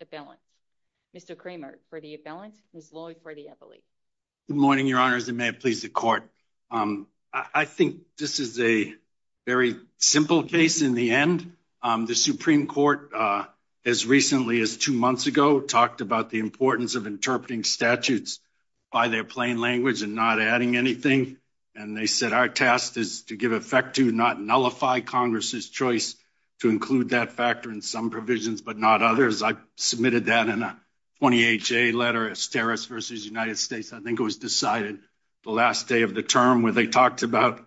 Appellant. Mr. Kramer for the Appellant, Ms. Lloyd for the Appellate. Good morning, Your Honors, and may it please the Court. I think this is a very simple case in the end. The Supreme Court, as recently as two months ago, talked about the importance of interpreting statutes by their plain language and not adding anything, and they said our task is to give effect to, not nullify, Congress's choice to include that factor in some provisions but not others. I submitted that in a 28-J letter, Esteros v. United States. I think it was decided the last day of the term where they talked about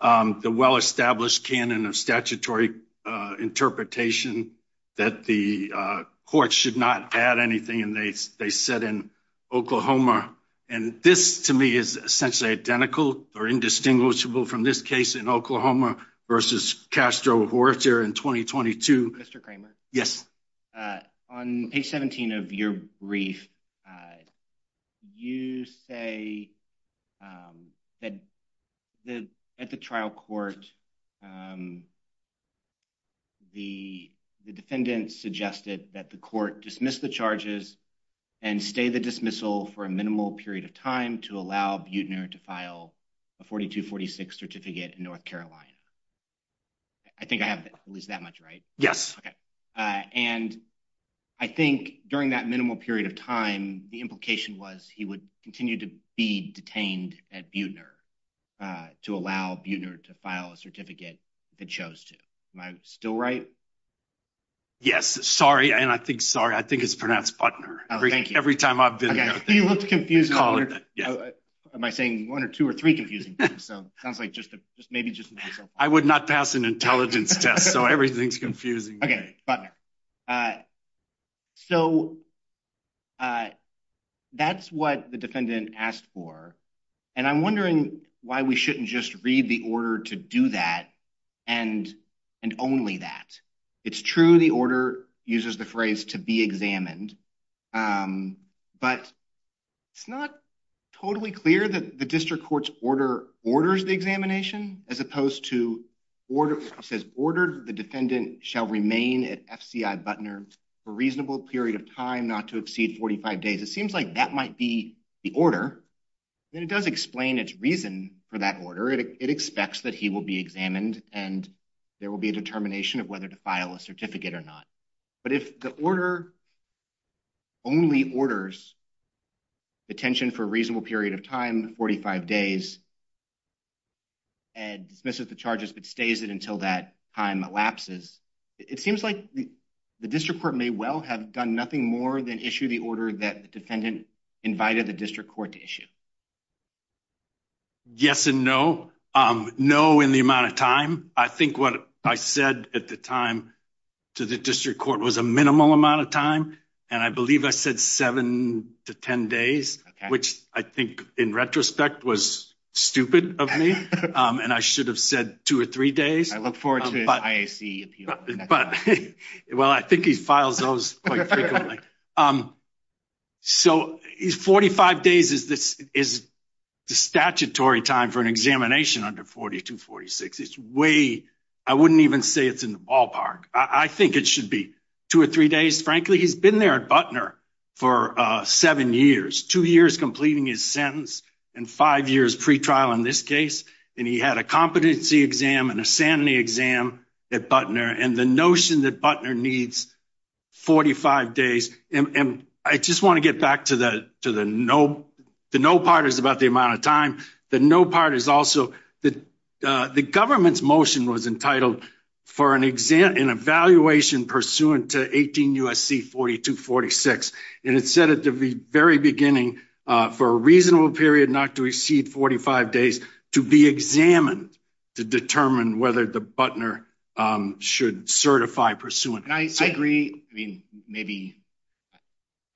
the well-established canon of statutory interpretation that the courts should not add anything, and they said in Oklahoma, and this to me is essentially identical or indistinguishable from this case in Oklahoma v. Castro-Horcher in 2022. Mr. Kramer? Yes. On page 17 of your brief, you say that at the trial court, the defendant suggested that the court dismiss the charges and stay the dismissal for a minimal period of time to allow Buettner to file a 4246 certificate in North Carolina. I think I have at least that much right? Yes. And I think during that minimal period of time, the implication was he would continue to be detained at Buettner to allow Buettner to file a certificate if it chose to. Am I still right? Yes, sorry, and I think sorry, I think it's pronounced Buettner. Oh, thank you. Every time I've been there. You looked confused. Am I saying one or two or three confusing things? So it sounds like just maybe just myself. I would not pass an intelligence test, so everything's confusing. Okay, Buettner. So that's what the defendant asked for, and I'm wondering why we shouldn't just read the order to do that and only that. It's true the order uses the phrase to be examined, but it's not totally clear that the district court's order orders the examination as opposed to order. It says ordered the defendant shall remain at FCI Buettner for a reasonable period of time not to exceed 45 days. It seems like that might be the order, and it does explain its reason for that order. It expects that he will be examined and there will be a determination of whether to file a certificate or not, but if the order only orders detention for a reasonable period of time, 45 days, and dismisses the charges but stays it until that time elapses, it seems like the district court may well have done nothing more than issue the order that the Yes and no. No in the amount of time. I think what I said at the time to the district court was a minimal amount of time, and I believe I said seven to ten days, which I think in retrospect was stupid of me, and I should have said two or three days. I look forward to his IAC. But well, I think he files those quite frequently. So 45 days is the statutory time for an examination under 4246. It's way, I wouldn't even say it's in the ballpark. I think it should be two or three days. Frankly, he's been there at Buettner for seven years, two years completing his sentence and five years pretrial in this case, and he had a competency exam and a sanity exam at Buettner, and the notion that Buettner needs 45 days, and I just want to get back to that to the no. The no part is about the amount of time. The no part is also that the government's motion was entitled for an exam, an evaluation pursuant to 18 USC 4246, and it said at the very beginning for a reasonable period not to exceed 45 days to be examined to determine whether the Buettner should certify pursuant. I agree. I mean, maybe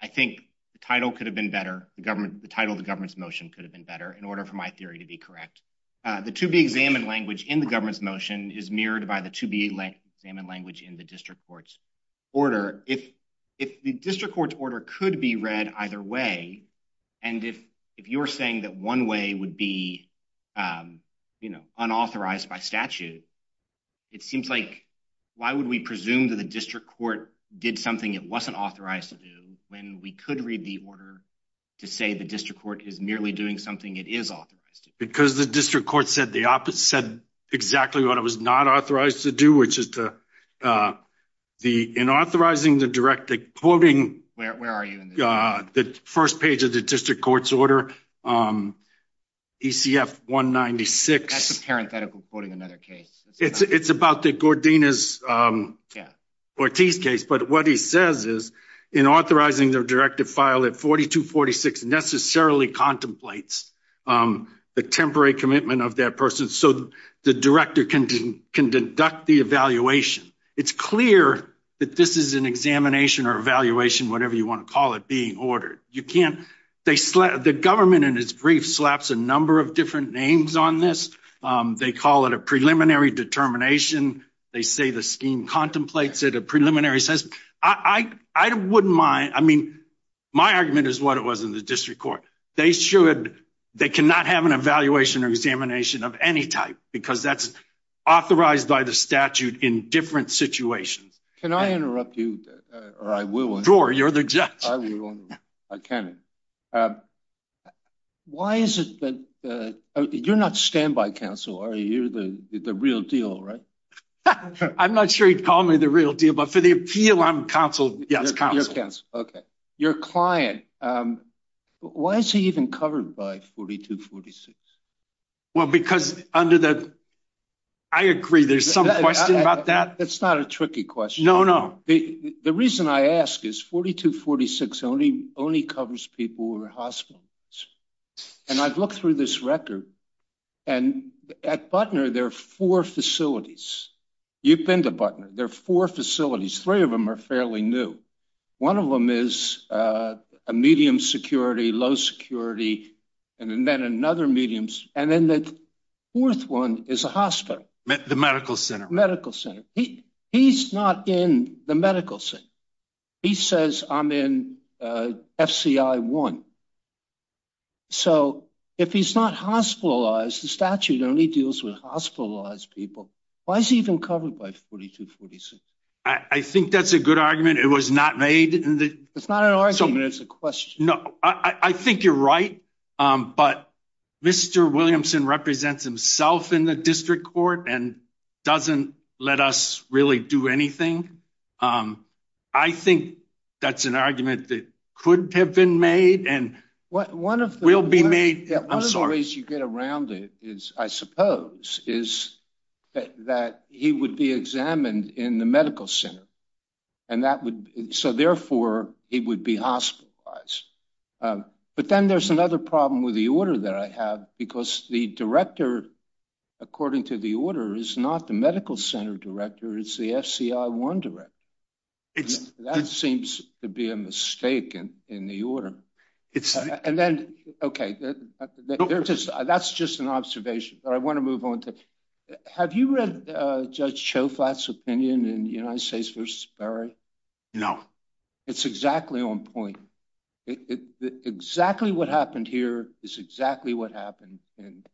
I think the title could have been better. The government, the title of the government's motion could have been better in order for my theory to be correct. The to be examined language in the government's motion is mirrored by the to be examined language in the district court's order. If the district court's order could be read either way, and if you're saying that one way would be, you know, unauthorized by statute, it seems like why would we presume that the district court did something it wasn't authorized to do when we could read the order to say the district court is merely doing something it is authorized to do? Because the district court said the opposite, said exactly what it was not authorized to do, which is to the, in authorizing the direct, quoting, where are you, the first of the district court's order, ECF 196. That's a parenthetical quoting another case. It's about the Gordinas-Ortiz case, but what he says is in authorizing the directive file at 4246 necessarily contemplates the temporary commitment of that person so the director can deduct the evaluation. It's clear that this is an examination or evaluation, whatever you want to call it, ordered. You can't, they slap, the government in its brief slaps a number of different names on this. They call it a preliminary determination. They say the scheme contemplates it. A preliminary says, I wouldn't mind, I mean, my argument is what it was in the district court. They should, they cannot have an evaluation or examination of any type because that's authorized by the statute in situations. Can I interrupt you, or I will. Sure, you're the judge. I can. Why is it that, you're not standby counsel, are you? You're the real deal, right? I'm not sure you'd call me the real deal, but for the appeal, I'm counsel. Yes, counsel. Okay. Your client, um, why is he even covered by 4246? Well, because under the, I agree, there's some question about that. That's not a tricky question. No, no. The reason I ask is 4246 only covers people who are hospitalized, and I've looked through this record, and at Butner, there are four facilities. You've been to Butner. There are four facilities. Three of them are fairly new. One of them is a medium security, low security, and then another medium, and then the fourth one is a hospital. The medical center. Medical center. He's not in the medical center. He says I'm in FCI1. So if he's not hospitalized, the statute only deals with hospitalized people. Why is he even covered by 4246? I think that's a good argument. It was not made. It's not an argument. It's a question. No, I think you're right, but Mr. Williamson represents himself in the district court and doesn't let us really do anything. I think that's an argument that could have been made and will be made. One of the ways you get around it is, I suppose, is that he would be examined in the medical center, and that would, so therefore, he would be hospitalized. But then there's another problem with the order that I have, because the director, according to the order, is not the medical center director. It's the FCI1 director. That seems to be a mistake in the order. And then, okay, that's just an observation, but I want to move on to, have you read Judge Choflat's opinion in the United States versus Barry? No. It's exactly on point. Exactly what happened here is exactly what happened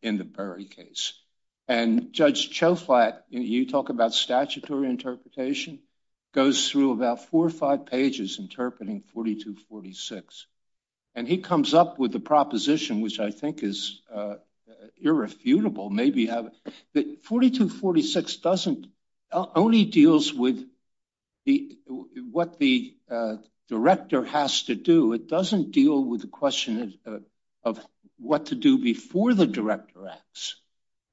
in the Barry case. And Judge Choflat, you talk about statutory interpretation, goes through about four or five pages interpreting 4246. And he comes up with a proposition, which I think is irrefutable. 4246 only deals with what the director has to do. It doesn't deal with the question of what to do before the director acts.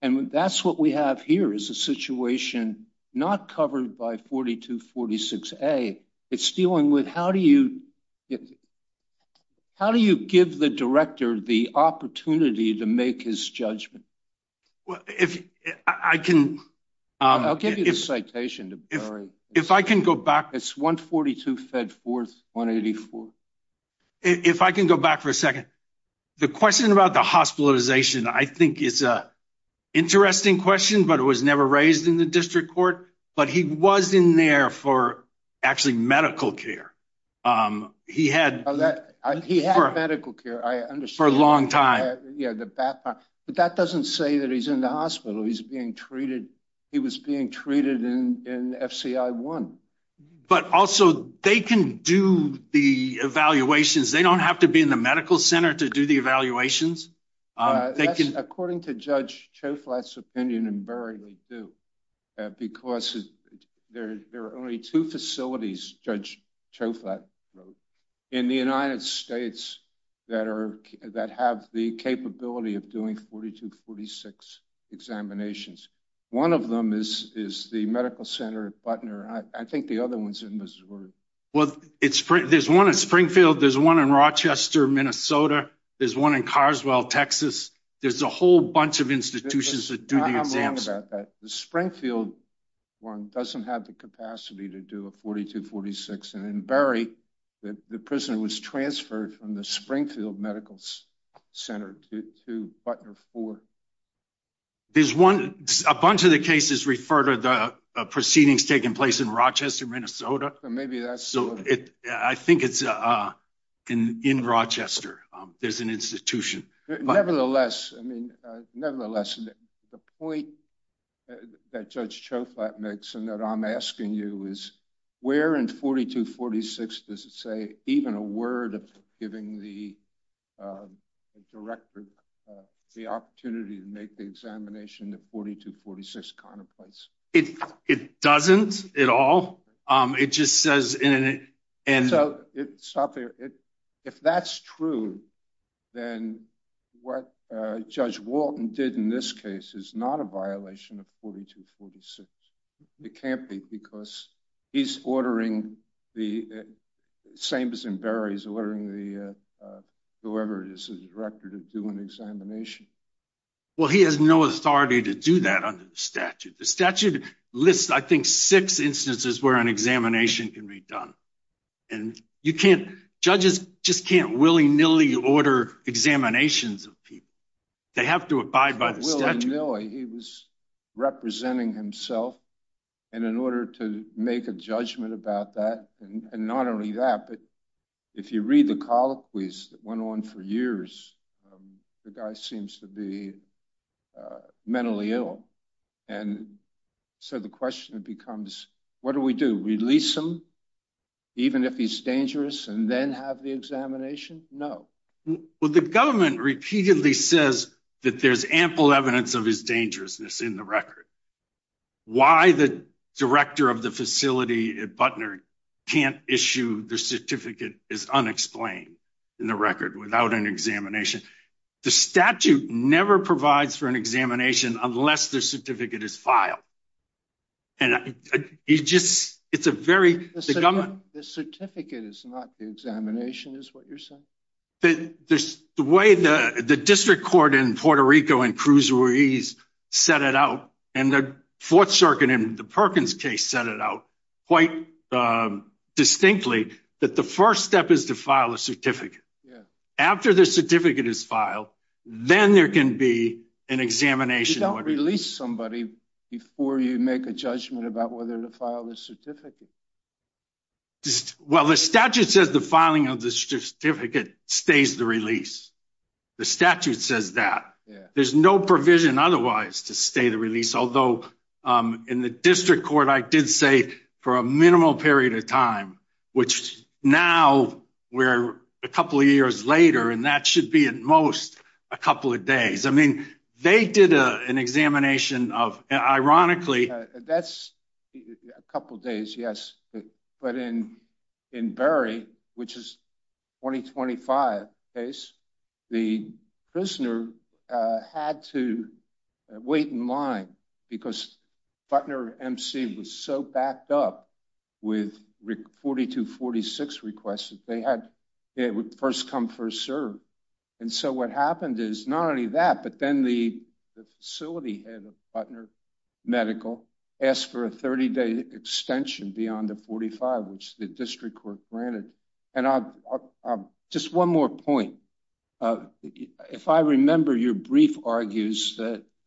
And that's what we have here is a situation not covered by 4246A. It's dealing with how do you, how do you give the director the opportunity to make his judgment? Well, if I can, I'll give you the citation. If I can go back, it's 142 fed forth 184. If I can go back for a second, the question about the hospitalization, I think it's a interesting question, but it was never raised in the district court, but he was in there for actually medical care. He had medical care, I understand. For a long time. Yeah. But that doesn't say that he's in the hospital. He's being treated. He was being treated in FCI1. But also they can do the evaluations. They don't have to be in the medical center to do the evaluations. They can, according to Judge Choflat's opinion, invariably do. Because there are only two facilities, Judge Choflat wrote, in the United States that have the capability of doing 4246 examinations. One of them is the medical center at Butner. I think the other one's in Missouri. Well, there's one in Springfield. There's one in Rochester, Minnesota. There's one in Carswell, Texas. There's a whole bunch of institutions that do the exams. I'm wrong about that. The Springfield one doesn't have the capacity to do a 4246. And in Berry, the prisoner was transferred from the Springfield Medical Center to Butner 4. There's one, a bunch of the cases refer to the proceedings taking place in Rochester, Minnesota. I think it's in Rochester. There's an institution. Nevertheless, the point that Judge Choflat makes and that I'm asking you is where in 4246 does it say even a word of giving a director the opportunity to make the examination the 4246 contemplates? It doesn't at all. It just says... So stop there. If that's true, then what Judge Walton did in this case is not a violation of 4246. It can't be because he's ordering the... Samson Berry's ordering whoever it is, the director, to do an examination. Well, he has no authority to do that under the statute. The statute lists, I think, six instances where an examination can be done. And you can't... Judges just can't willy-nilly order examinations of people. They have to abide by the statute. He was representing himself. And in order to make a judgment about that, and not only that, but if you read the colloquies that went on for years, the guy seems to be mentally ill. And so the question becomes, what do we do? Release him, even if he's dangerous, and then have the examination? No. Well, the government repeatedly says that there's ample evidence of his dangerousness in the record. Why the director of the facility at Butner can't issue the certificate is unexplained in the record without an examination. The statute never provides for an examination unless the certificate is filed. And it's a very... The government... The certificate is not the examination, is what you're saying? The way the district court in Puerto Rico and Cruz Ruiz set it out, and the 4th Circuit in the Perkins case set it out quite distinctly, that the first step is to file a certificate. After the certificate is filed, then there can be an examination. You don't release somebody before you make a judgment about whether to file the certificate. Well, the statute says the filing of the certificate stays the release. The statute says that. There's no provision otherwise to stay the release. Although in the district court, I did say for a minimal period of time, which now we're a couple of years later, and that should be at most a couple of days. I mean, they did an examination of... Ironically... A couple of days, yes. But in Barry, which is 2025 case, the prisoner had to wait in line because Butner MC was so backed up with 4246 requests that they had... It would first come, first serve. And so what happened is not only that, but then the facility head of Butner Medical asked for a 30-day extension beyond the 45, which the district court granted. And just one more point. If I remember, your brief argues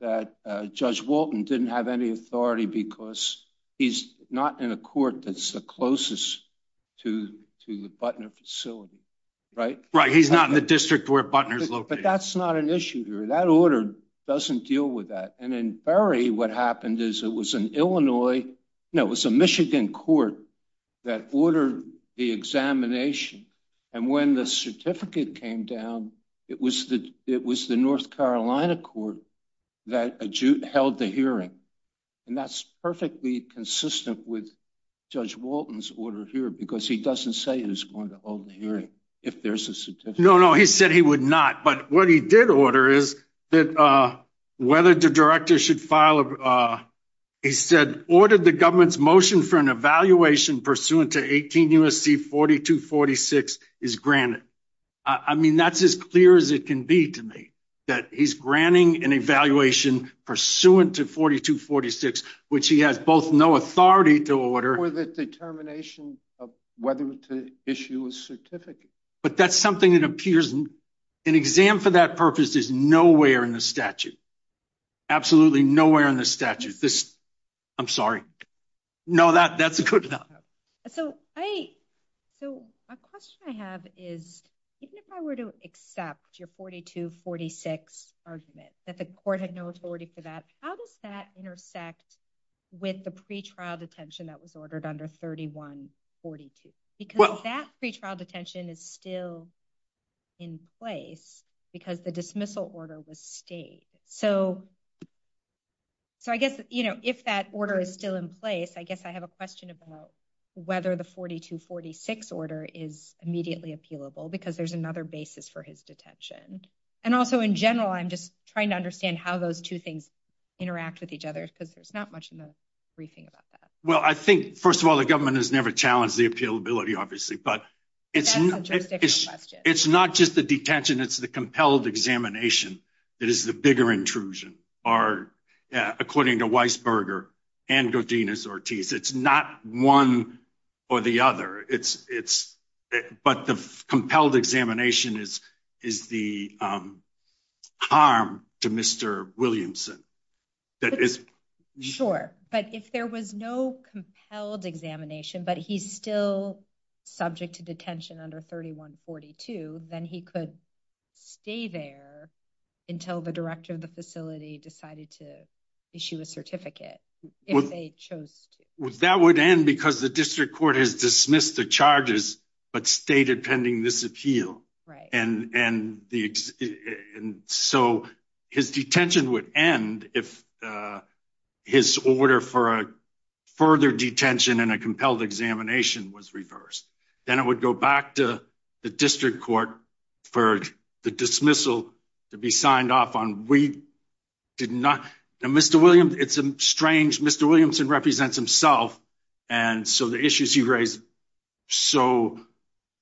that Judge Walton didn't have any authority because he's not in a court that's the closest to the Butner facility, right? Right. He's not in the district where Butner's located. But that's not an issue here. That order doesn't deal with that. And in Barry, what happened is it was an Illinois... No, it was a Michigan court that ordered the examination. And when the certificate came down, it was the North Carolina court that held the hearing. And that's perfectly consistent with Judge Walton's order here, because he doesn't say he's going to hold the hearing if there's a certificate. No, no. He said he would not. But what he did order is whether the director should file a... He said, ordered the government's motion for an evaluation pursuant to 18 U.S.C. 4246 is granted. I mean, that's as clear as it can be to me, that he's granting an evaluation pursuant to 4246, which he has both no authority to order- Or the determination of whether to issue a certificate. But that's something that appears... An exam for that purpose is nowhere in the statute. Absolutely nowhere in the statute. I'm sorry. No, that's a good one. So a question I have is, even if I were to accept your 4246 argument, that the court had no authority for that, how does that intersect with the pretrial detention that was ordered under 3142? Because that pretrial detention is still in place because the dismissal order was stayed. So I guess if that order is still in place, I guess I have a question about whether the 4246 order is immediately appealable, because there's another basis for his detention. And also in general, I'm just trying to understand how those two things interact with each other, because there's not much in the briefing about that. Well, I think, first of all, the government has never challenged the appealability, obviously, but it's not just the detention, it's the compelled examination that is the bigger intrusion, according to Weisberger and Godinez-Ortiz. It's not one or the other, but the compelled examination, but he's still subject to detention under 3142, then he could stay there until the director of the facility decided to issue a certificate if they chose to. That would end because the district court has dismissed the charges but stated pending this appeal. And so his detention would end if his order for a further detention and a compelled examination was reversed. Then it would go back to the district court for the dismissal to be signed off on. Mr. Williamson represents himself, and so the issues he raised. So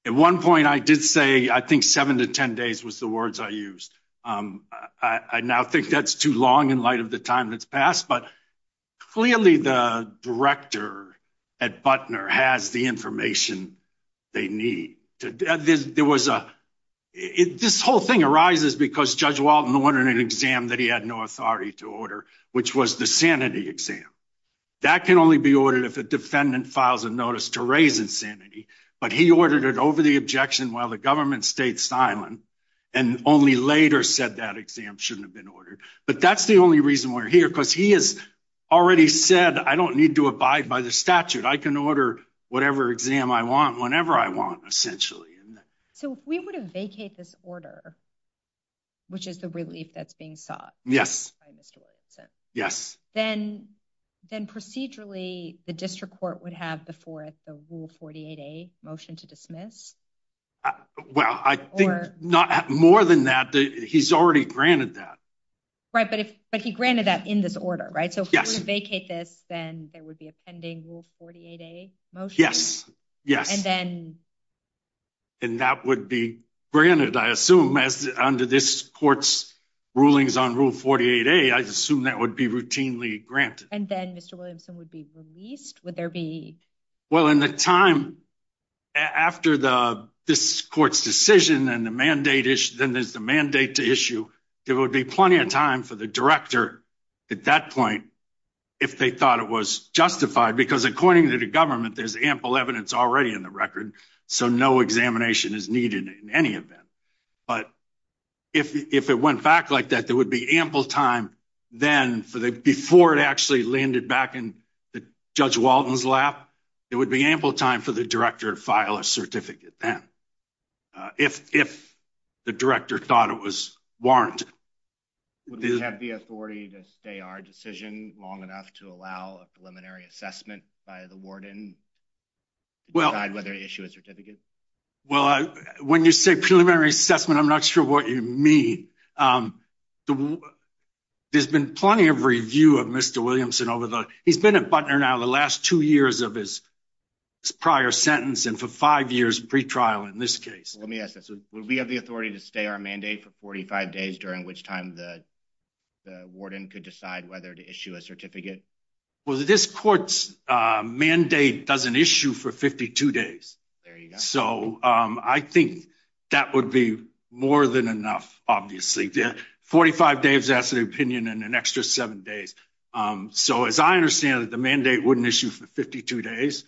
at one point I did say, I think seven to 10 days was the words I used. I now think that's too long in light of the time that's passed, but clearly the director at Butner has the information they need. This whole thing arises because Judge Walton ordered an exam that he had no authority to order, which was the sanity exam. That can only be ordered if a insanity, but he ordered it over the objection while the government stayed silent and only later said that exam shouldn't have been ordered. But that's the only reason we're here because he has already said, I don't need to abide by the statute. I can order whatever exam I want, whenever I want, essentially. So if we would have vacate this order, which is the relief that's being sought by Mr. Williamson, then procedurally the district court would have before the Rule 48A motion to dismiss? Well, I think more than that, he's already granted that. Right, but he granted that in this order, right? So if we were to vacate this, then there would be a pending Rule 48A motion? Yes, yes. And that would be granted, I assume, as under this court's rulings on Rule 48A, I assume that would be routinely granted. And then Mr. Williamson would be released, would there be? Well, in the time after this court's decision and then there's the mandate to issue, there would be plenty of time for the director at that point, if they thought it was justified. Because according to the government, there's ample evidence already in the record. So no examination is needed in any event. But if it went back like that, there would be ample time then for the, before it actually landed back in Judge Walton's lap, it would be ample time for the director to file a certificate then, if the director thought it was warranted. Would we have the authority to stay our decision long enough to allow a preliminary assessment by the warden to decide whether to issue a certificate? Well, when you say preliminary assessment, I'm not sure what you mean. There's been plenty of review of Mr. Williamson over the, he's been a butler now the last two years of his prior sentence and for five years pre-trial in this case. Let me ask this, would we have the authority to stay our mandate for 45 days during which time the the warden could decide whether to issue a certificate? Well, this court's mandate doesn't issue for 52 days. So I think that would be more than enough, obviously. 45 days to ask an opinion and an extra seven days. So as I understand that the mandate wouldn't issue for 52 days,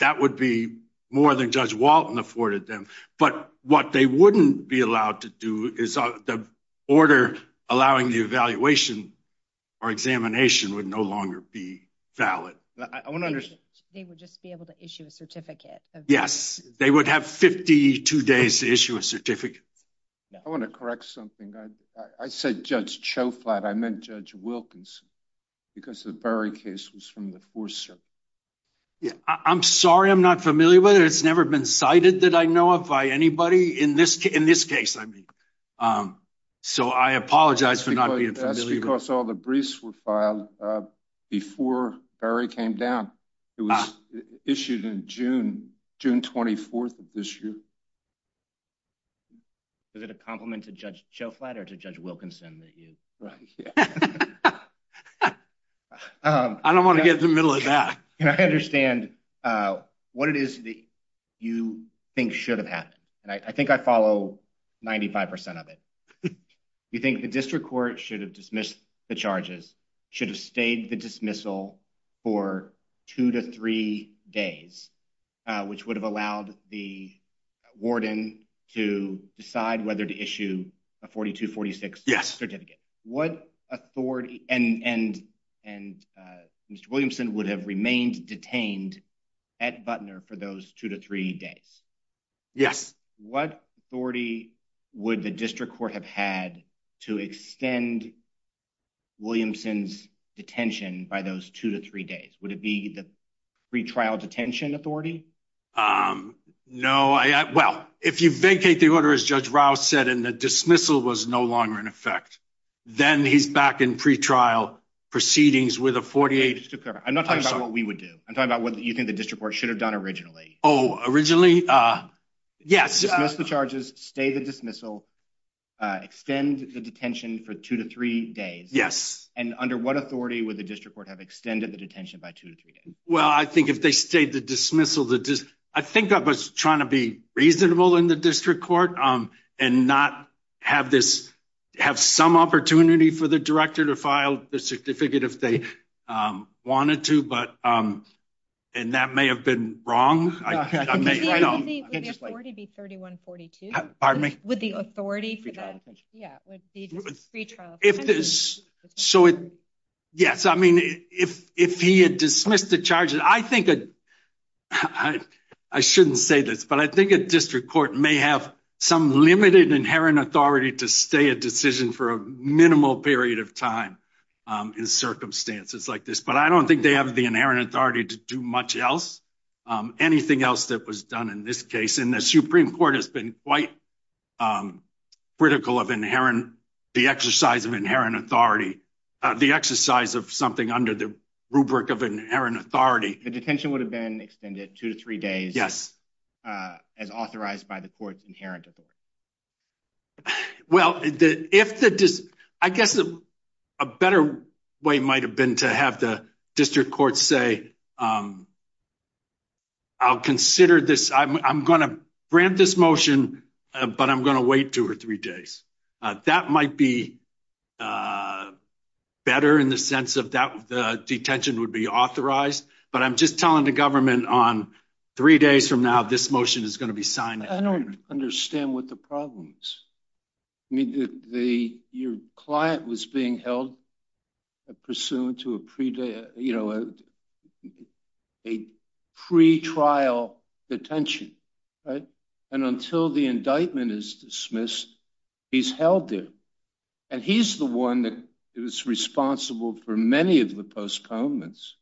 that would be more than Judge Walton afforded them. But what they wouldn't be allowed to do is the order allowing the evaluation or examination would no longer be valid. They would just be able to issue a certificate. Yes, they would have 52 days to issue a certificate. I want to correct something. I said Judge Choflat. I meant Judge Wilkins because the Berry case was from the fourth circuit. Yeah, I'm sorry I'm not familiar with it. It's never been cited that I know of by anybody in this case. So I apologize for not It was issued in June, June 24th of this year. Is it a compliment to Judge Choflat or to Judge Wilkinson? I don't want to get in the middle of that. I understand what it is that you think should have happened. And I think I follow 95% of it. You think the district court should have dismissed the charges, should have stayed the dismissal for two to three days, which would have allowed the warden to decide whether to issue a 42-46 certificate. And Mr. Williamson would have remained detained at Butner for those two to three days. Yes. What authority would the district court have had to extend Williamson's detention by those two to three days? Would it be the pre-trial detention authority? No. Well, if you vacate the order, as Judge Rouse said, and the dismissal was no longer in effect, then he's back in pre-trial proceedings with a 48. I'm not talking about what we would do. I'm talking about what you think the district court should have done originally. Oh, originally? Yes. Dismiss the charges, stay the dismissal, extend the detention for two to three days. Yes. And under what authority would the district court have extended the detention by two to three days? Well, I think if they stayed the dismissal, I think I was trying to be reasonable in the district court and not have some opportunity for the director to file the certificate if they wanted to. And that may have been wrong. Would the authority be 3142? Pardon me? Would the authority for that, yeah, would be just pre-trial detention? Yes. I mean, if he had dismissed the charges, I think, I shouldn't say this, but I think a district court may have some limited inherent authority to stay a decision for a minimal period of time in circumstances like this. But I don't think they the inherent authority to do much else. Anything else that was done in this case in the Supreme Court has been quite critical of the exercise of inherent authority, the exercise of something under the rubric of inherent authority. The detention would have been extended two to three days. Yes. As authorized by the court's inherent authority. Well, I guess a better way might have been to have the district court say, I'll consider this, I'm going to grant this motion, but I'm going to wait two or three days. That might be better in the sense of that the detention would be authorized. But I'm just telling the government on three days from now, this motion is going to be signed. I don't understand what the problem is. I mean, your client was being held pursuant to a pre-trial detention. And until the indictment is dismissed, he's held there. And he's the one that is responsible for many of the postponements.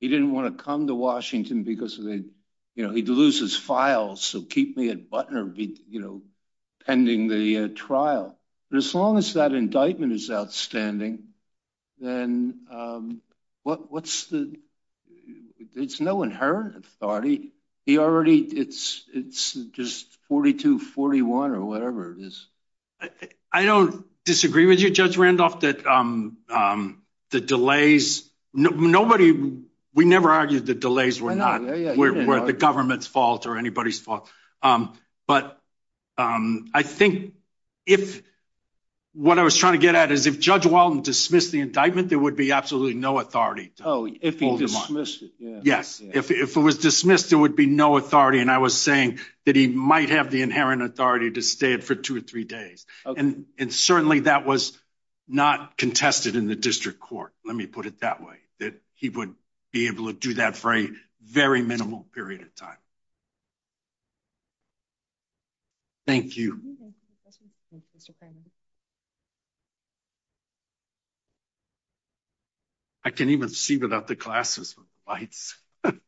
He didn't want to come to Washington because he'd lose his files. So keep me at Butner pending the trial. But as long as that indictment is outstanding, then it's no inherent authority. It's just 42-41 or whatever it is. I don't disagree with you, Judge Randolph, that the delays, nobody, we never argued the delays were the government's fault or anybody's fault. But I think if what I was trying to get at is if Judge Walton dismissed the indictment, there would be absolutely no authority. Oh, if he dismissed it. Yes. If it was dismissed, there would be no authority. And I was saying that he might have the inherent authority to stay for two or three days. And certainly that was not contested in district court. Let me put it that way, that he would be able to do that for a very minimal period of time. Thank you. I can't even see without the glasses. Good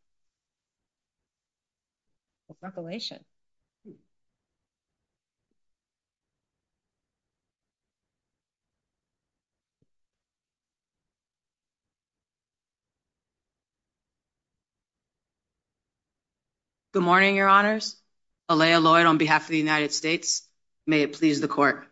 morning, Your Honors. Alaya Lloyd on behalf of the United States. May it please the court.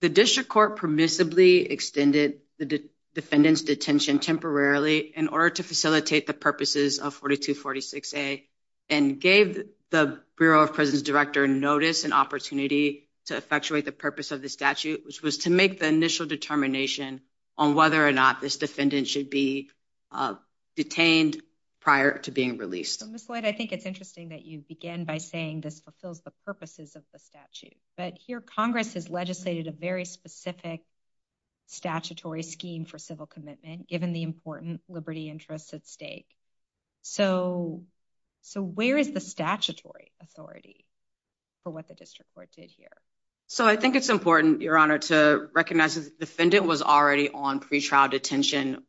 The district court permissibly extended the defendant's detention temporarily in order to facilitate the purposes of 42-46A and gave the Bureau of Prisons Director notice and opportunity to effectuate the purpose of the statute, which was to make the initial determination on whether or not this defendant should be detained prior to being released. Ms. Lloyd, I think it's interesting that you begin by saying this fulfills the purposes of the statute. But here Congress has legislated a very specific statutory scheme for civil commitment given the important liberty interests at stake. So where is the statutory authority for what the district court did here? So I think it's important, Your Honor, to recognize the defendant was already on pretrial detention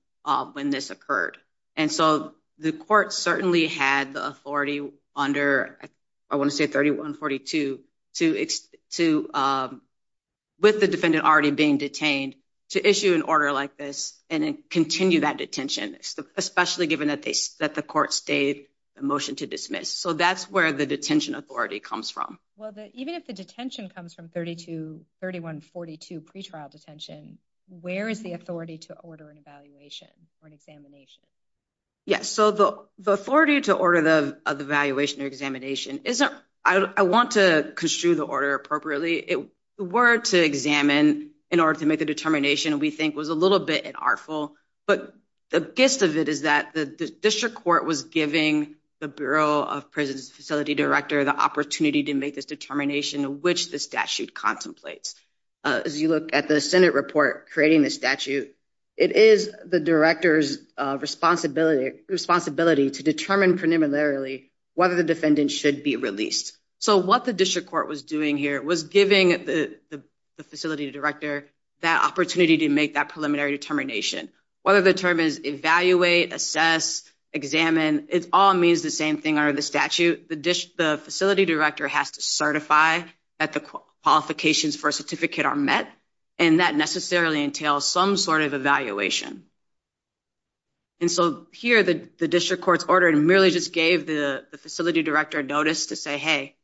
when this occurred. And so the court certainly had the authority under, I want to say 31-42, with the defendant already being detained to issue an order like this and continue that detention, especially given that the court stayed the motion to dismiss. So that's where the detention authority comes from. Well, even if the detention comes from 31-42 pretrial detention, where is the authority to order an evaluation or an examination? Yes. So the authority to order the evaluation or examination, I want to construe the order appropriately. It were to examine in order to make the determination we think was a little bit unartful. But the gist of it is that the district court was giving the Bureau of Prisons Facility Director the opportunity to make this determination, which the statute contemplates. As you look at the Senate report creating the statute, it is the director's responsibility to determine preliminarily whether the defendant should be released. So what the district court was doing here was giving the facility director that opportunity to make that preliminary determination. Whether the term is evaluate, assess, examine, it all means the same thing under the statute. The facility director has to certify that the qualifications for a certificate are met, and that necessarily entails some sort of evaluation. And so here the district court's order merely just gave the facility director a notice to say, hey,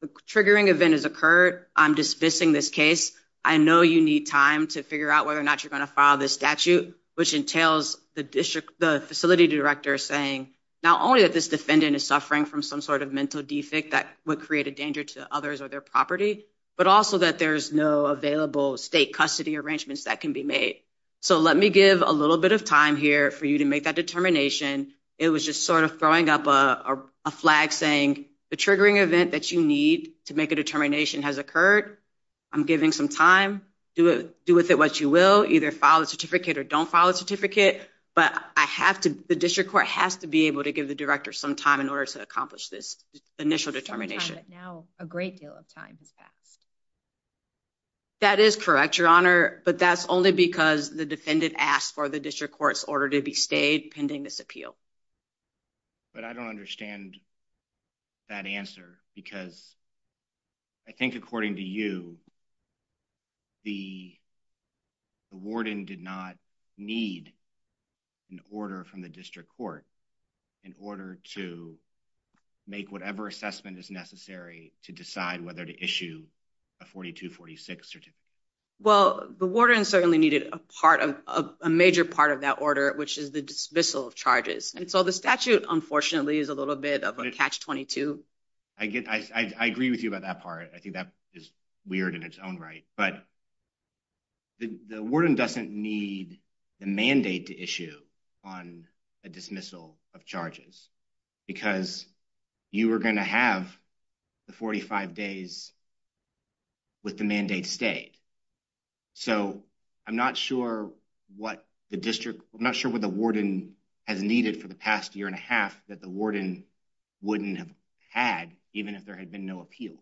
the triggering event has occurred. I'm dismissing this case. I know you need time to figure out whether or not you're going to file this statute, which entails the facility director saying not only that this defendant is suffering from some sort of mental defect that would create a danger to others or their property, but also that there's no available state custody arrangements that can be made. So let me give a little bit of time here for you to make that determination. It was just sort of throwing up a flag saying the triggering event that you need to make a determination has occurred. I'm giving some time. Do with it what you will, either file a certificate or don't file a certificate. But the district court has to be able to give the director some time in order to accomplish this initial determination. Some time, but now a great deal of time has passed. That is correct, Your Honor, but that's only because the defendant asked for the district court's order to be stayed pending this appeal. But I don't understand that answer because I think according to you, the warden did not need an order from the district court in order to make whatever assessment is necessary to decide whether to issue a 4246 certificate. Well, the warden certainly needed a part of a major part of that order, which is the dismissal of charges. And so the statute, unfortunately, is a little bit of a catch-22. I agree with you about that part. I think that is weird in its own right, but the warden doesn't need the mandate to issue on a dismissal of charges because you were going to have the 45 days with the mandate stayed. So I'm not sure what the district, I'm not sure what the warden has needed for the past year and a half that the warden wouldn't have had, even if there had been no appeal.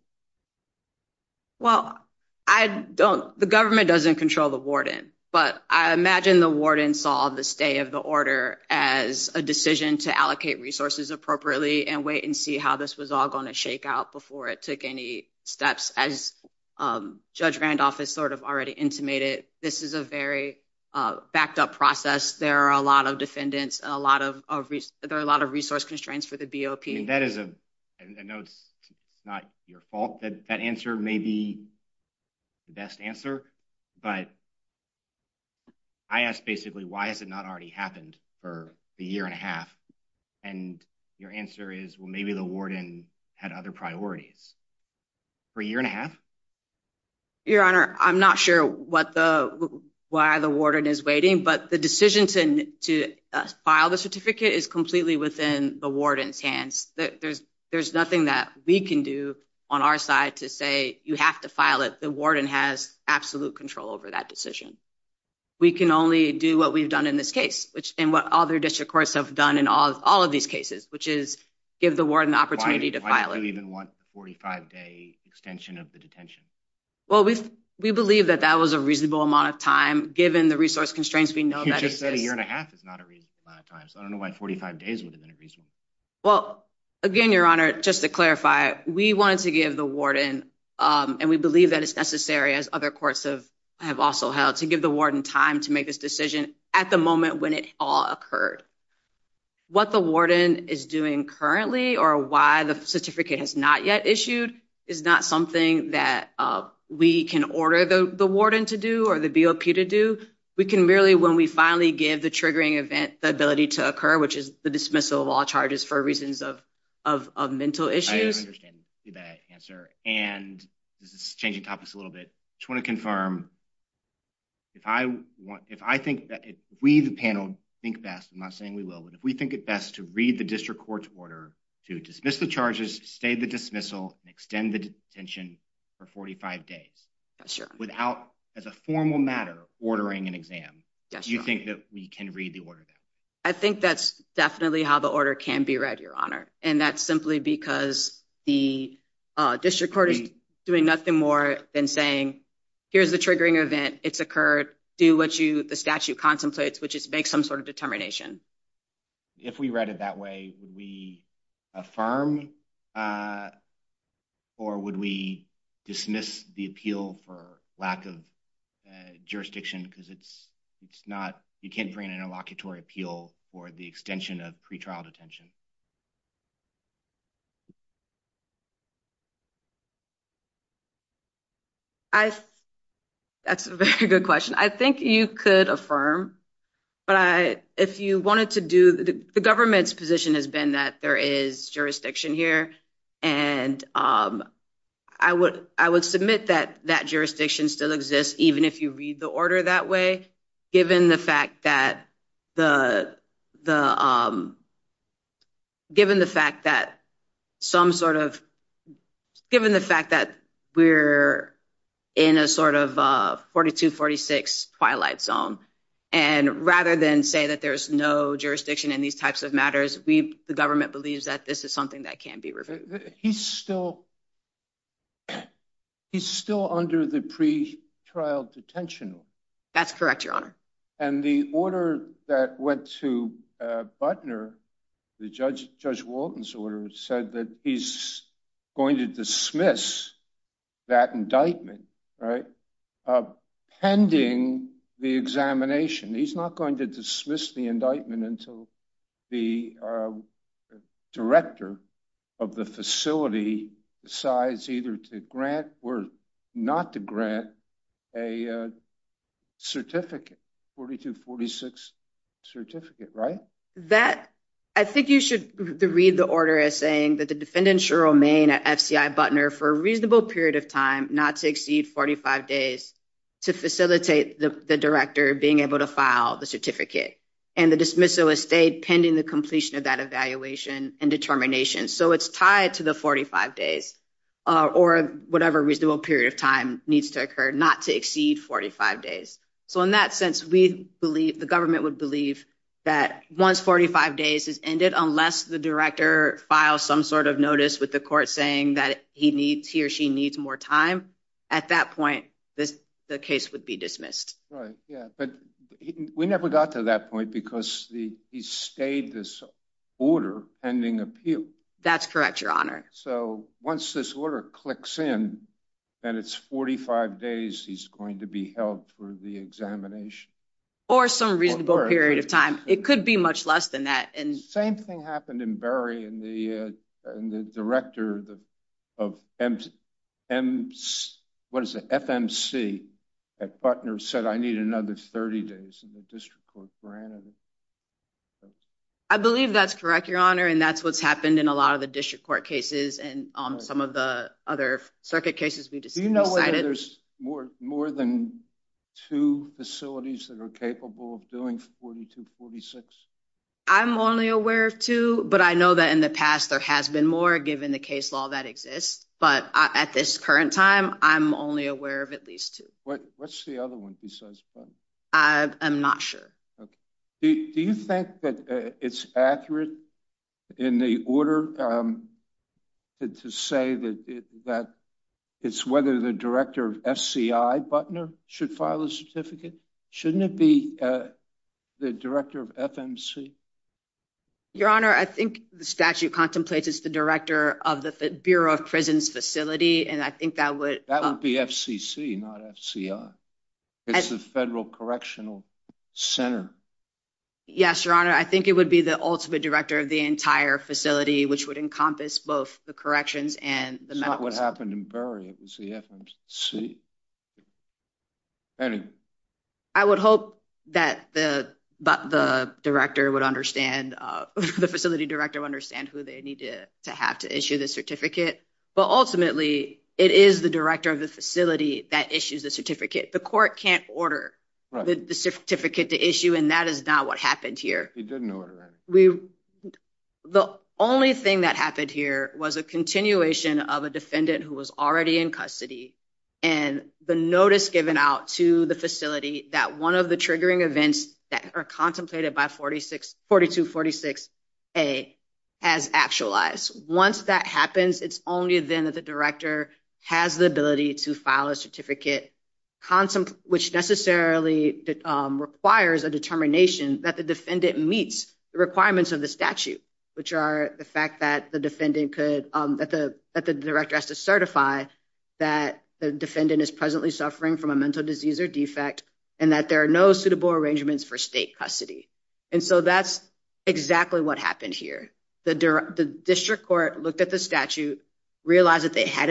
Well, I don't, the government doesn't control the warden, but I imagine the warden saw the of the order as a decision to allocate resources appropriately and wait and see how this was all going to shake out before it took any steps as Judge Randolph has sort of already intimated. This is a very backed up process. There are a lot of defendants, a lot of, there are a lot of resource constraints for the BOP. I mean, that is a, I know it's not your fault that that answer may be the best answer, but I asked basically, why has it not already happened for a year and a half? And your answer is, well, maybe the warden had other priorities for a year and a half. Your Honor, I'm not sure what the, why the warden is waiting, but the decision to file the certificate is completely within the warden's hands. There's nothing that we can do on our side to say, you have to file it. The warden has absolute control over that decision. We can only do what we've done in this case, which, and what other district courts have done in all of these cases, which is give the warden the opportunity to file it. Why do you even want the 45-day extension of the detention? Well, we believe that that was a reasonable amount of time, given the resource constraints. You just said a year and a half is not a reasonable amount of time, so I don't know why 45 days would Well, again, Your Honor, just to clarify, we wanted to give the warden, and we believe that it's necessary, as other courts have also held, to give the warden time to make this decision at the moment when it all occurred. What the warden is doing currently or why the certificate has not yet issued is not something that we can order the warden to do or the BOP to do. We can really, when we finally give the triggering event the ability to occur, which is the dismissal of all charges for reasons of mental issues. I understand that answer, and this is changing topics a little bit. I just want to confirm, if I want, if I think that if we, the panel, think best, I'm not saying we will, but if we think it best to read the district court's order to dismiss the charges, stay the dismissal, and extend the detention for 45 days, without, as a formal matter, ordering an exam, do you think that we can read the order there? I think that's definitely how the order can be read, Your Honor, and that's simply because the district court is doing nothing more than saying, here's the triggering event, it's occurred, do what the statute contemplates, which is make some sort of determination. If we read it that way, would we affirm or would we dismiss the appeal for lack of appeal for the extension of pretrial detention? That's a very good question. I think you could affirm, but if you wanted to do, the government's position has been that there is jurisdiction here, and I would submit that that jurisdiction still exists, even if you read the order that way, given the fact that we're in a sort of 42-46 twilight zone, and rather than say that there's no jurisdiction in these types of matters, the government believes that this is something that can be reviewed. He's still under the pretrial detention law. That's correct, Your Honor. And the order that went to Butner, the Judge Walton's order, said that he's going to dismiss that indictment, right, pending the examination. He's not going to dismiss the indictment until the director of the facility decides either to grant or not to grant a certificate, 42-46 certificate, right? I think you should read the order as saying that the defendant, Cheryl Main, at FCI Butner, for a reasonable period of time, not to exceed 45 days, to facilitate the director being able to file the certificate, and the dismissal is stayed pending the completion of that evaluation and determination. So it's tied to the 45 days, or whatever reasonable period of time needs to occur, not to exceed 45 days. So in that sense, the government would believe that once 45 days has ended, unless the director files some sort of notice with the court saying that he or she needs more time, at that point, the case would be dismissed. Right, yeah. But we never got to that point because he stayed this order pending appeal. That's correct, Your Honor. So once this order clicks in, then it's 45 days he's going to be held for the examination. Or some reasonable period of time. It could be much less than that. Same thing happened in Berry, and the director of FMC at Butner said, I need another 30 days in the district court granted. I believe that's correct, Your Honor. And that's what's happened in a lot of the district court cases, and some of the other circuit cases we decided. Do you know whether there's more than two facilities that are capable of doing 42, 46? I'm only aware of two. But I know that in the past, there has been more, given the case law that exists. But at this current time, I'm only aware of at least two. What's the other one besides Butner? I'm not sure. Do you think that it's accurate in the order to say that it's whether the director of FCI, Butner, should file a certificate? Shouldn't it be the director of FMC? Your Honor, I think the statute contemplates it's the director of the Bureau of Prisons facility, and I think that would- Not FCC, not FCI. It's the Federal Correctional Center. Yes, Your Honor. I think it would be the ultimate director of the entire facility, which would encompass both the corrections and the- It's not what happened in Bury. It was the FMC. I would hope that the director would understand, the facility director would understand who they need to have to issue the certificate. But ultimately, it is the director of the facility that issues the certificate. The court can't order the certificate to issue, and that is not what happened here. He didn't order it. The only thing that happened here was a continuation of a defendant who was already in custody, and the notice given out to the facility that one of the triggering events that are contemplated by 4246A has actualized. Once that happens, it's only then that the director has the ability to file a certificate, which necessarily requires a determination that the defendant meets the requirements of the statute, which are the fact that the defendant could- that the director has to certify that the defendant is presently suffering from a mental disease or defect, and that there are no suitable arrangements for state custody. And so that's exactly what happened here. The district court looked at the statute, realized that it had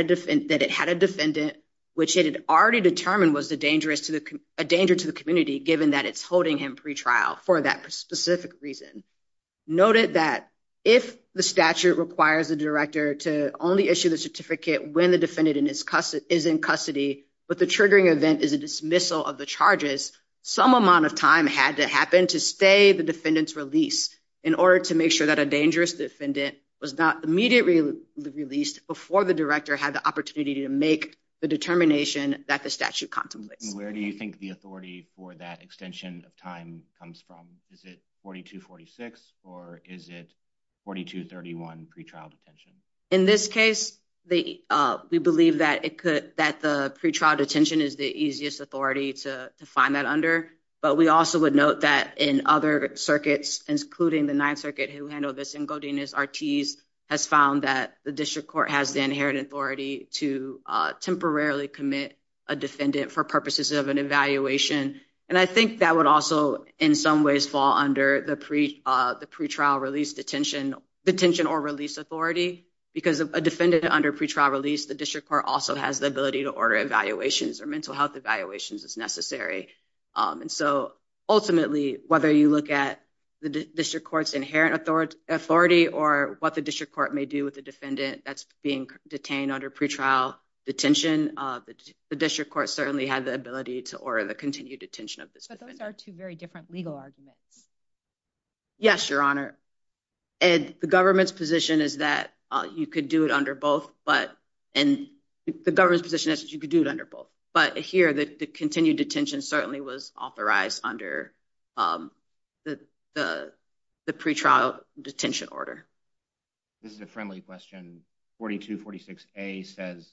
a defendant, which it had already determined was a danger to the community, given that it's holding him pretrial for that specific reason. Noted that if the statute requires the director to only issue the certificate when the defendant is in custody, but the triggering event is a dismissal of the charges, some amount of time had to happen to stay the defendant's release in order to make sure that a dangerous defendant was not immediately released before the director had the opportunity to make the determination that the statute contemplates. Where do you think the authority for that extension of time comes from? Is it 4246 or is it 4231 pretrial detention? In this case, we believe that it could- that the pretrial detention is the easiest authority to find that under, but we also would note that in other circuits, including the Ninth Circuit, who handled this in Godinez-Artiz, has found that the district court has the inherited authority to temporarily commit a defendant for purposes of an evaluation. And I think that would also in some ways fall under the pretrial release detention or release authority, because a defendant under pretrial release, the district court also has the ability to order evaluations or mental health evaluations as necessary. And so ultimately, whether you look at the district court's inherent authority or what the district court may do with the defendant that's being detained under pretrial detention, the district court certainly had the ability to order the continued detention of this defendant. But those are two very different legal arguments. Yes, Your Honor. And the government's position is that you could do it under both, but- the continued detention certainly was authorized under the pretrial detention order. This is a friendly question. 4246A says,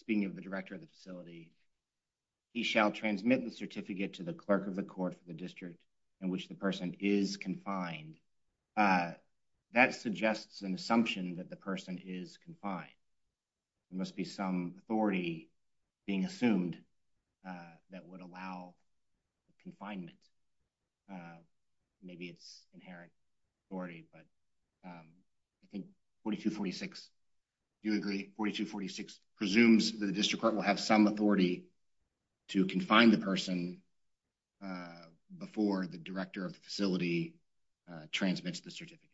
speaking of the director of the facility, he shall transmit the certificate to the clerk of the court of the district in which the person is confined. That suggests an assumption that the person is confined. There must be some authority being assumed that would allow confinement. Maybe it's inherent authority, but I think 4246, do you agree, 4246 presumes that the district court will have some authority to confine the person before the director of the facility transmits the certificate?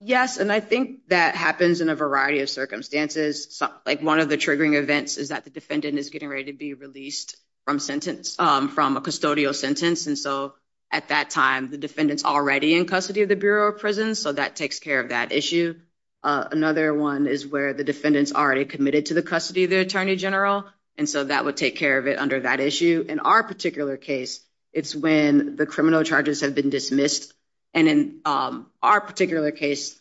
Yes, and I think that happens in a variety of circumstances. One of the triggering events is that the defendant is getting ready to be released from a custodial sentence. And so at that time, the defendant's already in custody of the Bureau of Prisons, so that takes care of that issue. Another one is where the defendant's already committed to the custody of the attorney general, and so that would take care of it under that issue. In our particular case, it's when the criminal charges have been dismissed. And in our particular case,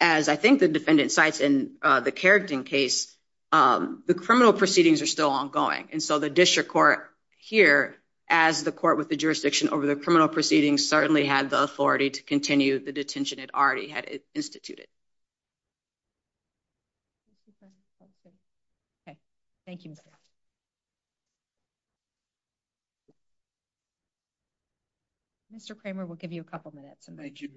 as I think the defendant cites in the Carrington case, the criminal proceedings are still ongoing. And so the district court here, as the court with the jurisdiction over the criminal proceedings, certainly had the authority to continue the had instituted. Okay, thank you. Mr. Kramer, we'll give you a couple minutes. Thank you.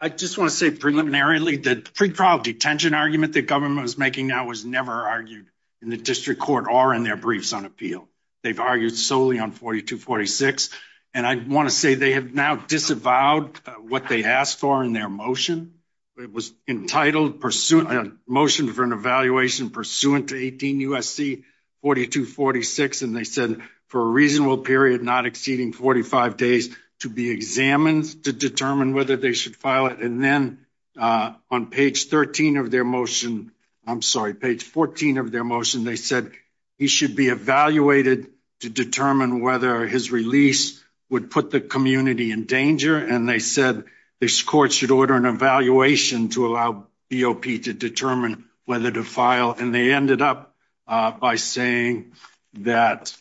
I just want to say preliminarily that the pre-trial detention argument that government was making now was never argued in the district court or in their briefs on appeal. They've argued solely on 4246, and I want to say they have now disavowed what they asked for in their motion. It was entitled, a motion for an evaluation pursuant to 18 U.S.C. 4246, and they said for a reasonable period not exceeding 45 days to be examined to determine whether they should file it. And then on page 13 of their motion, I'm sorry, page 14 of their motion, they said he should be evaluated to determine whether his release would put the community in danger. And they said this court should order an evaluation to allow BOP to determine whether to file. And they ended up by saying that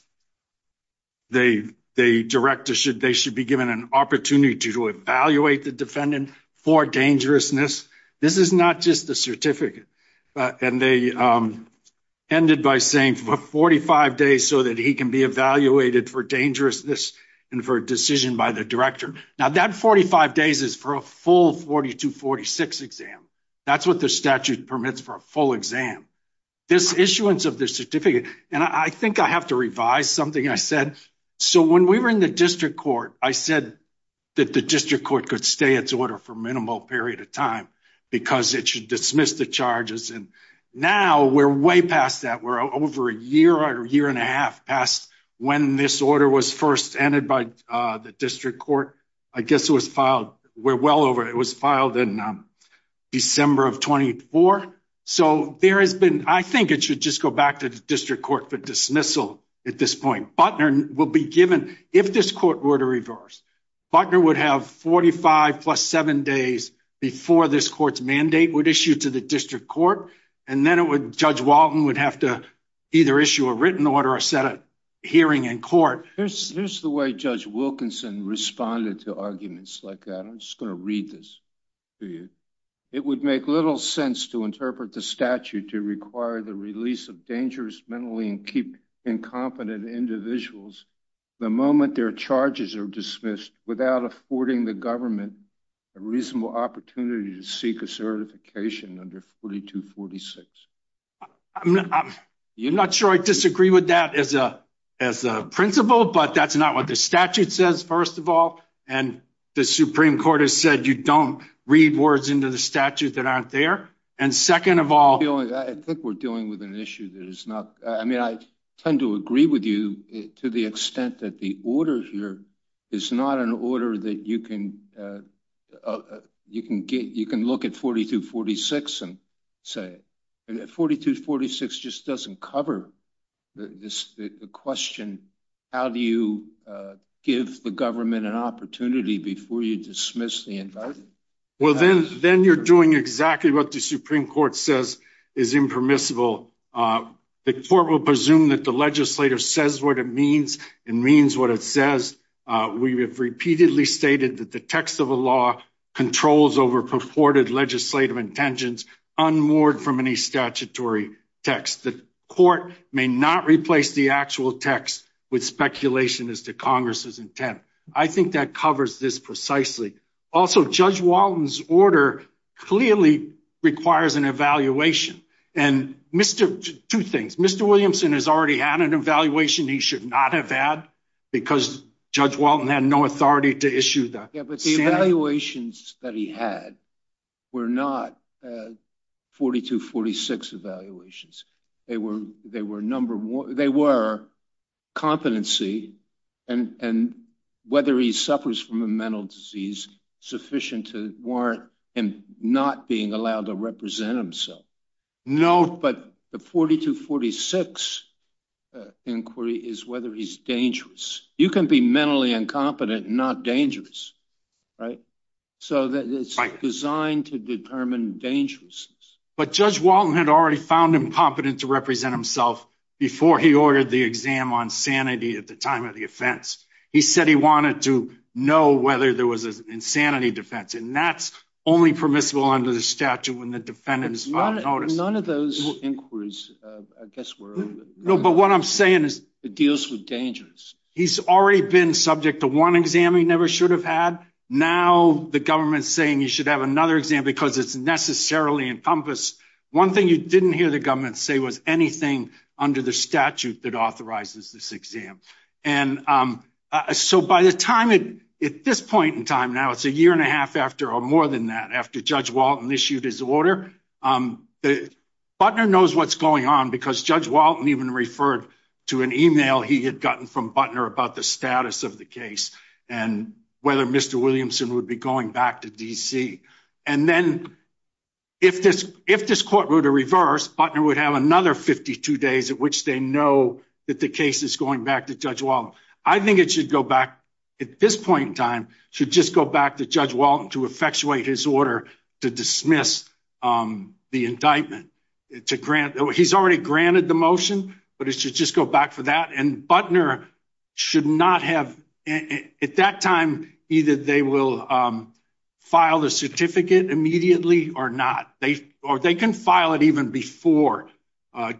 they should be given an opportunity to evaluate the defendant for dangerousness. This is not just a certificate. And they ended by saying for 45 days so that he can be evaluated for dangerousness and for a decision by the director. Now that 45 days is for a full 4246 exam. That's what the statute permits for a full exam. This issuance of the certificate, and I think I have to revise something I said. So when we were in the district court, I said that the district court could stay its order for a minimal period of time because it should dismiss the charges. And now we're way past that. We're over a year or a year and a half past when this order was first entered by the district court. I guess it was filed, we're well over, it was filed in December of 24. So there has been, I think it should just go back to the district court for dismissal at this point. Butner will be given, if this court were to reverse, Butner would have 45 plus seven days before this court's mandate would issue to the district court. And then it would, Judge Walton would have to either issue a written order or set a hearing in court. Here's the way Judge Wilkinson responded to arguments like that. I'm just going to read this to you. It would make little sense to interpret the statute to require the release of dangerous mentally incompetent individuals the moment their charges are dismissed without affording the government a reasonable opportunity to seek a certification under 4246. You're not sure I disagree with that as a principle, but that's not what the statute says first of all. And the Supreme Court has said you don't read words into the statute that aren't there. And second of all, I think we're dealing with an issue that is not, I mean, I tend to agree with you to the extent that the order here is not an order that you can, you can get, you can look at 4246 and say, 4246 just doesn't cover this question. How do you give the government an opportunity before you dismiss the indictment? Well, then, then you're doing exactly what the Supreme Court says is impermissible. The court will presume that the legislative says what it means and means what it says. We have repeatedly stated that the text of a law controls over purported legislative intentions unmoored from any statutory text. The court may not replace the text with speculation as to Congress's intent. I think that covers this precisely. Also, Judge Walton's order clearly requires an evaluation. And Mr., two things, Mr. Williamson has already had an evaluation he should not have had because Judge Walton had no authority to issue that. Yeah, but the evaluations that he had were not 4246 evaluations. They were, they were number, they were competency and, and whether he suffers from a mental disease sufficient to warrant him not being allowed to represent himself. No, but the 4246 inquiry is whether he's dangerous. You can be mentally incompetent, not dangerous, right? So that it's designed to determine dangerousness. But Judge Walton had already found him competent to represent himself before he ordered the exam on sanity at the time of the offense. He said he wanted to know whether there was an insanity defense and that's only permissible under the statute when the defendant is not noticed. None of those inquiries, I guess, were. No, but what I'm saying is. It deals with dangerous. He's already been subject to one exam he never should have had. Now the government's saying you should have another exam because it's necessarily encompassed. One thing you didn't hear the government say was anything under the statute that authorizes this exam. And so by the time it, at this point in time, now it's a year and a half after, or more than that, after Judge Walton issued his order. Butler knows what's going on because Judge Walton even referred to an email he had gotten from Butler about the status of the case and whether Mr. Williamson would be going back to DC. And then if this court were to reverse, Butler would have another 52 days at which they know that the case is going back to Judge Walton. I think it should go back, at this point in time, should just go back to Judge Walton to effectuate his order to dismiss the indictment. He's already granted the motion, but it should just go back for that. And Butler should not have, at that time, either they will file the certificate immediately or not. Or they can file it even before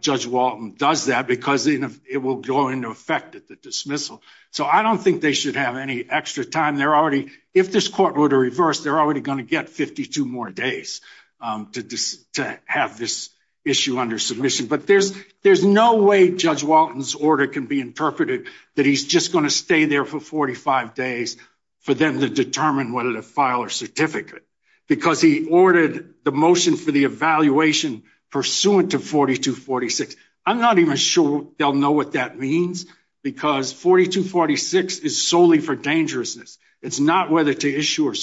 Judge Walton does that because it will go into effect at the dismissal. So I don't think they should have any extra time. They're already, if this court were to reverse, they're already going to get 52 more days to have this issue under submission. But there's no way Judge Walton's order can be interpreted that he's just going to stay there for 45 days for them to determine whether to file a certificate because he ordered the motion for the evaluation pursuant to 4246. I'm not even sure they'll know what that means because 4246 is solely for dangerousness. It's not whether to issue a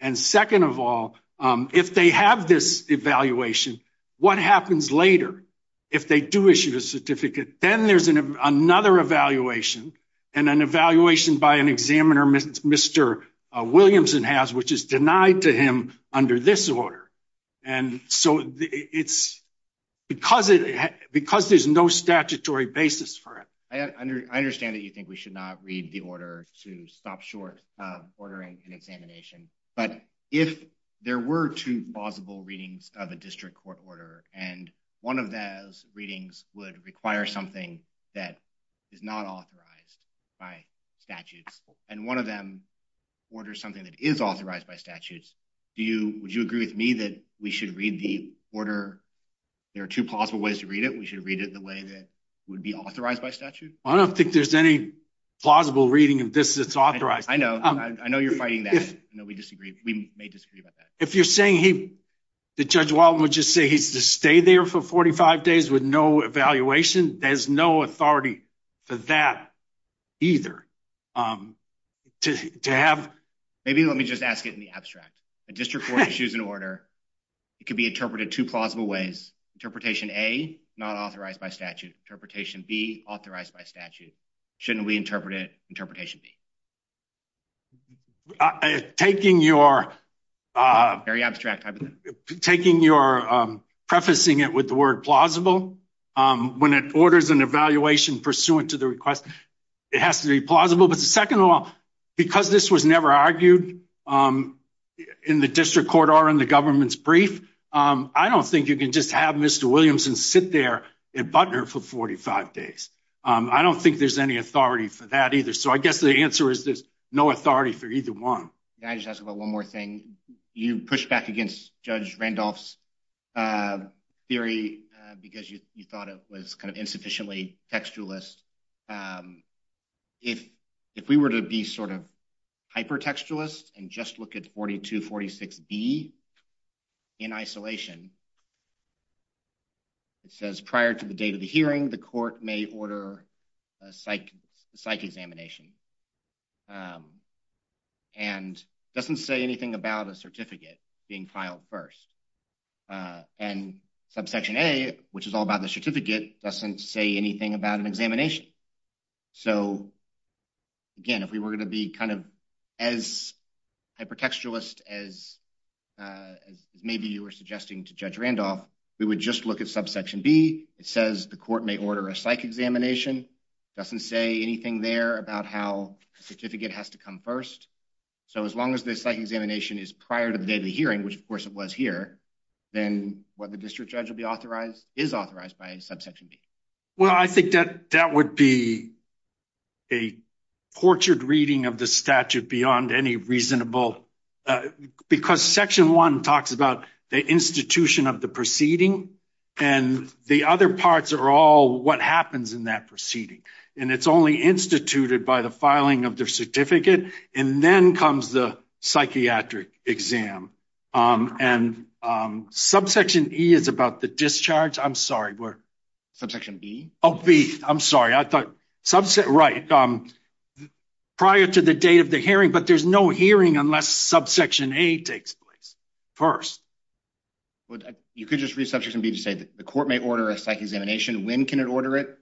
And second of all, if they have this evaluation, what happens later if they do issue a certificate? Then there's another evaluation and an evaluation by an examiner Mr. Williamson has which is denied to him under this order. And so it's because there's no statutory basis for it. I understand that you think we should not read the order to stop short of ordering an examination. But if there were two plausible readings of a district court order and one of those readings would require something that is not authorized by statutes and one of them orders something that is authorized by statutes, would you agree with me that we should read the order, there are two plausible ways to read it, we should read it the way that would be authorized by statute? I don't think there's any plausible reading of this that's authorized. I know, I know you're fighting that. I know we disagree, we may disagree about that. If you're saying he, the Judge Walton would just say he's to stay there for 45 days with no evaluation, there's no authority for that either. To have, maybe let me just ask it in the abstract. A district court issues an order, it could be interpreted two plausible ways. Interpretation A, not authorized by statute. Interpretation B, authorized by statute. Shouldn't we interpret it, interpretation B? Taking your, very abstract, taking your prefacing it with the word plausible, when it orders an evaluation pursuant to the request, it has to be plausible. But second of all, because this was never argued in the district court or in the government's brief, I don't think you can just have Mr. Williamson sit there at Butner for 45 days. I don't think there's any authority for that either. So I guess the answer is there's no authority for either one. Can I just ask about one more thing? You pushed back against Judge Randolph's theory because you thought it was kind of insufficiently textualist. If we were to be sort of hyper-textualist and just look at 4246B in isolation, it says prior to the date of the hearing, the court may order a psych examination and doesn't say anything about a certificate being filed first. And subsection A, which is all about the certificate, doesn't say anything about an examination. So again, if we were going to be kind of as hyper-textualist as maybe you were suggesting to Judge Randolph, we would just look at subsection B. It says the court may order a psych examination, doesn't say anything there about how a certificate has to come first. So as long as the psych examination is prior to the day of the hearing, which of course it was here, then what the district is authorized by is subsection B. Well, I think that that would be a portrait reading of the statute beyond any reasonable... Because section one talks about the institution of the proceeding and the other parts are all what happens in that proceeding. And it's only instituted by the filing of their certificate. And then comes the psychiatric exam. And subsection E is about the discharge. I'm sorry, where? Subsection B? Oh, B. I'm sorry. I thought... Right. Prior to the date of the hearing, but there's no hearing unless subsection A takes place first. Well, you could just read subsection B to say that the court may order a psych examination. When can it order it?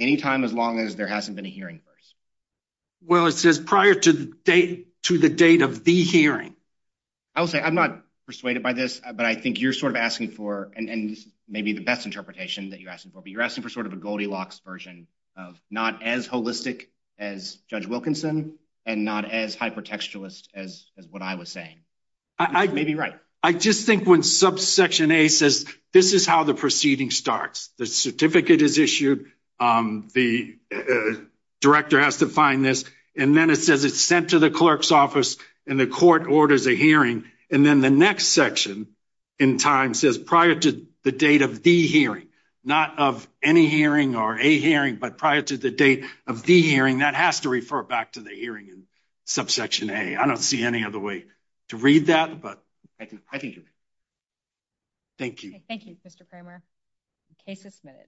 Anytime as long as there hasn't been a hearing first. Well, it says prior to the date of the hearing. I will say I'm not persuaded by this, but I think you're sort of asking for... And maybe the best interpretation that you're asking for, but you're asking for sort of a Goldilocks version of not as holistic as Judge Wilkinson and not as hypertextualist as what I was saying. You may be right. I just think when subsection A says, this is how the proceeding starts, the certificate is issued, the director has to find this, and then it says it's sent to the clerk's office and the court orders a hearing. And then the next section in time says prior to the date of the hearing, not of any hearing or a hearing, but prior to the date of the hearing, that has to refer back to the hearing in subsection A. I don't see any other way to read that, but I think you're... Thank you. Thank you, Mr. Kramer. The case is submitted.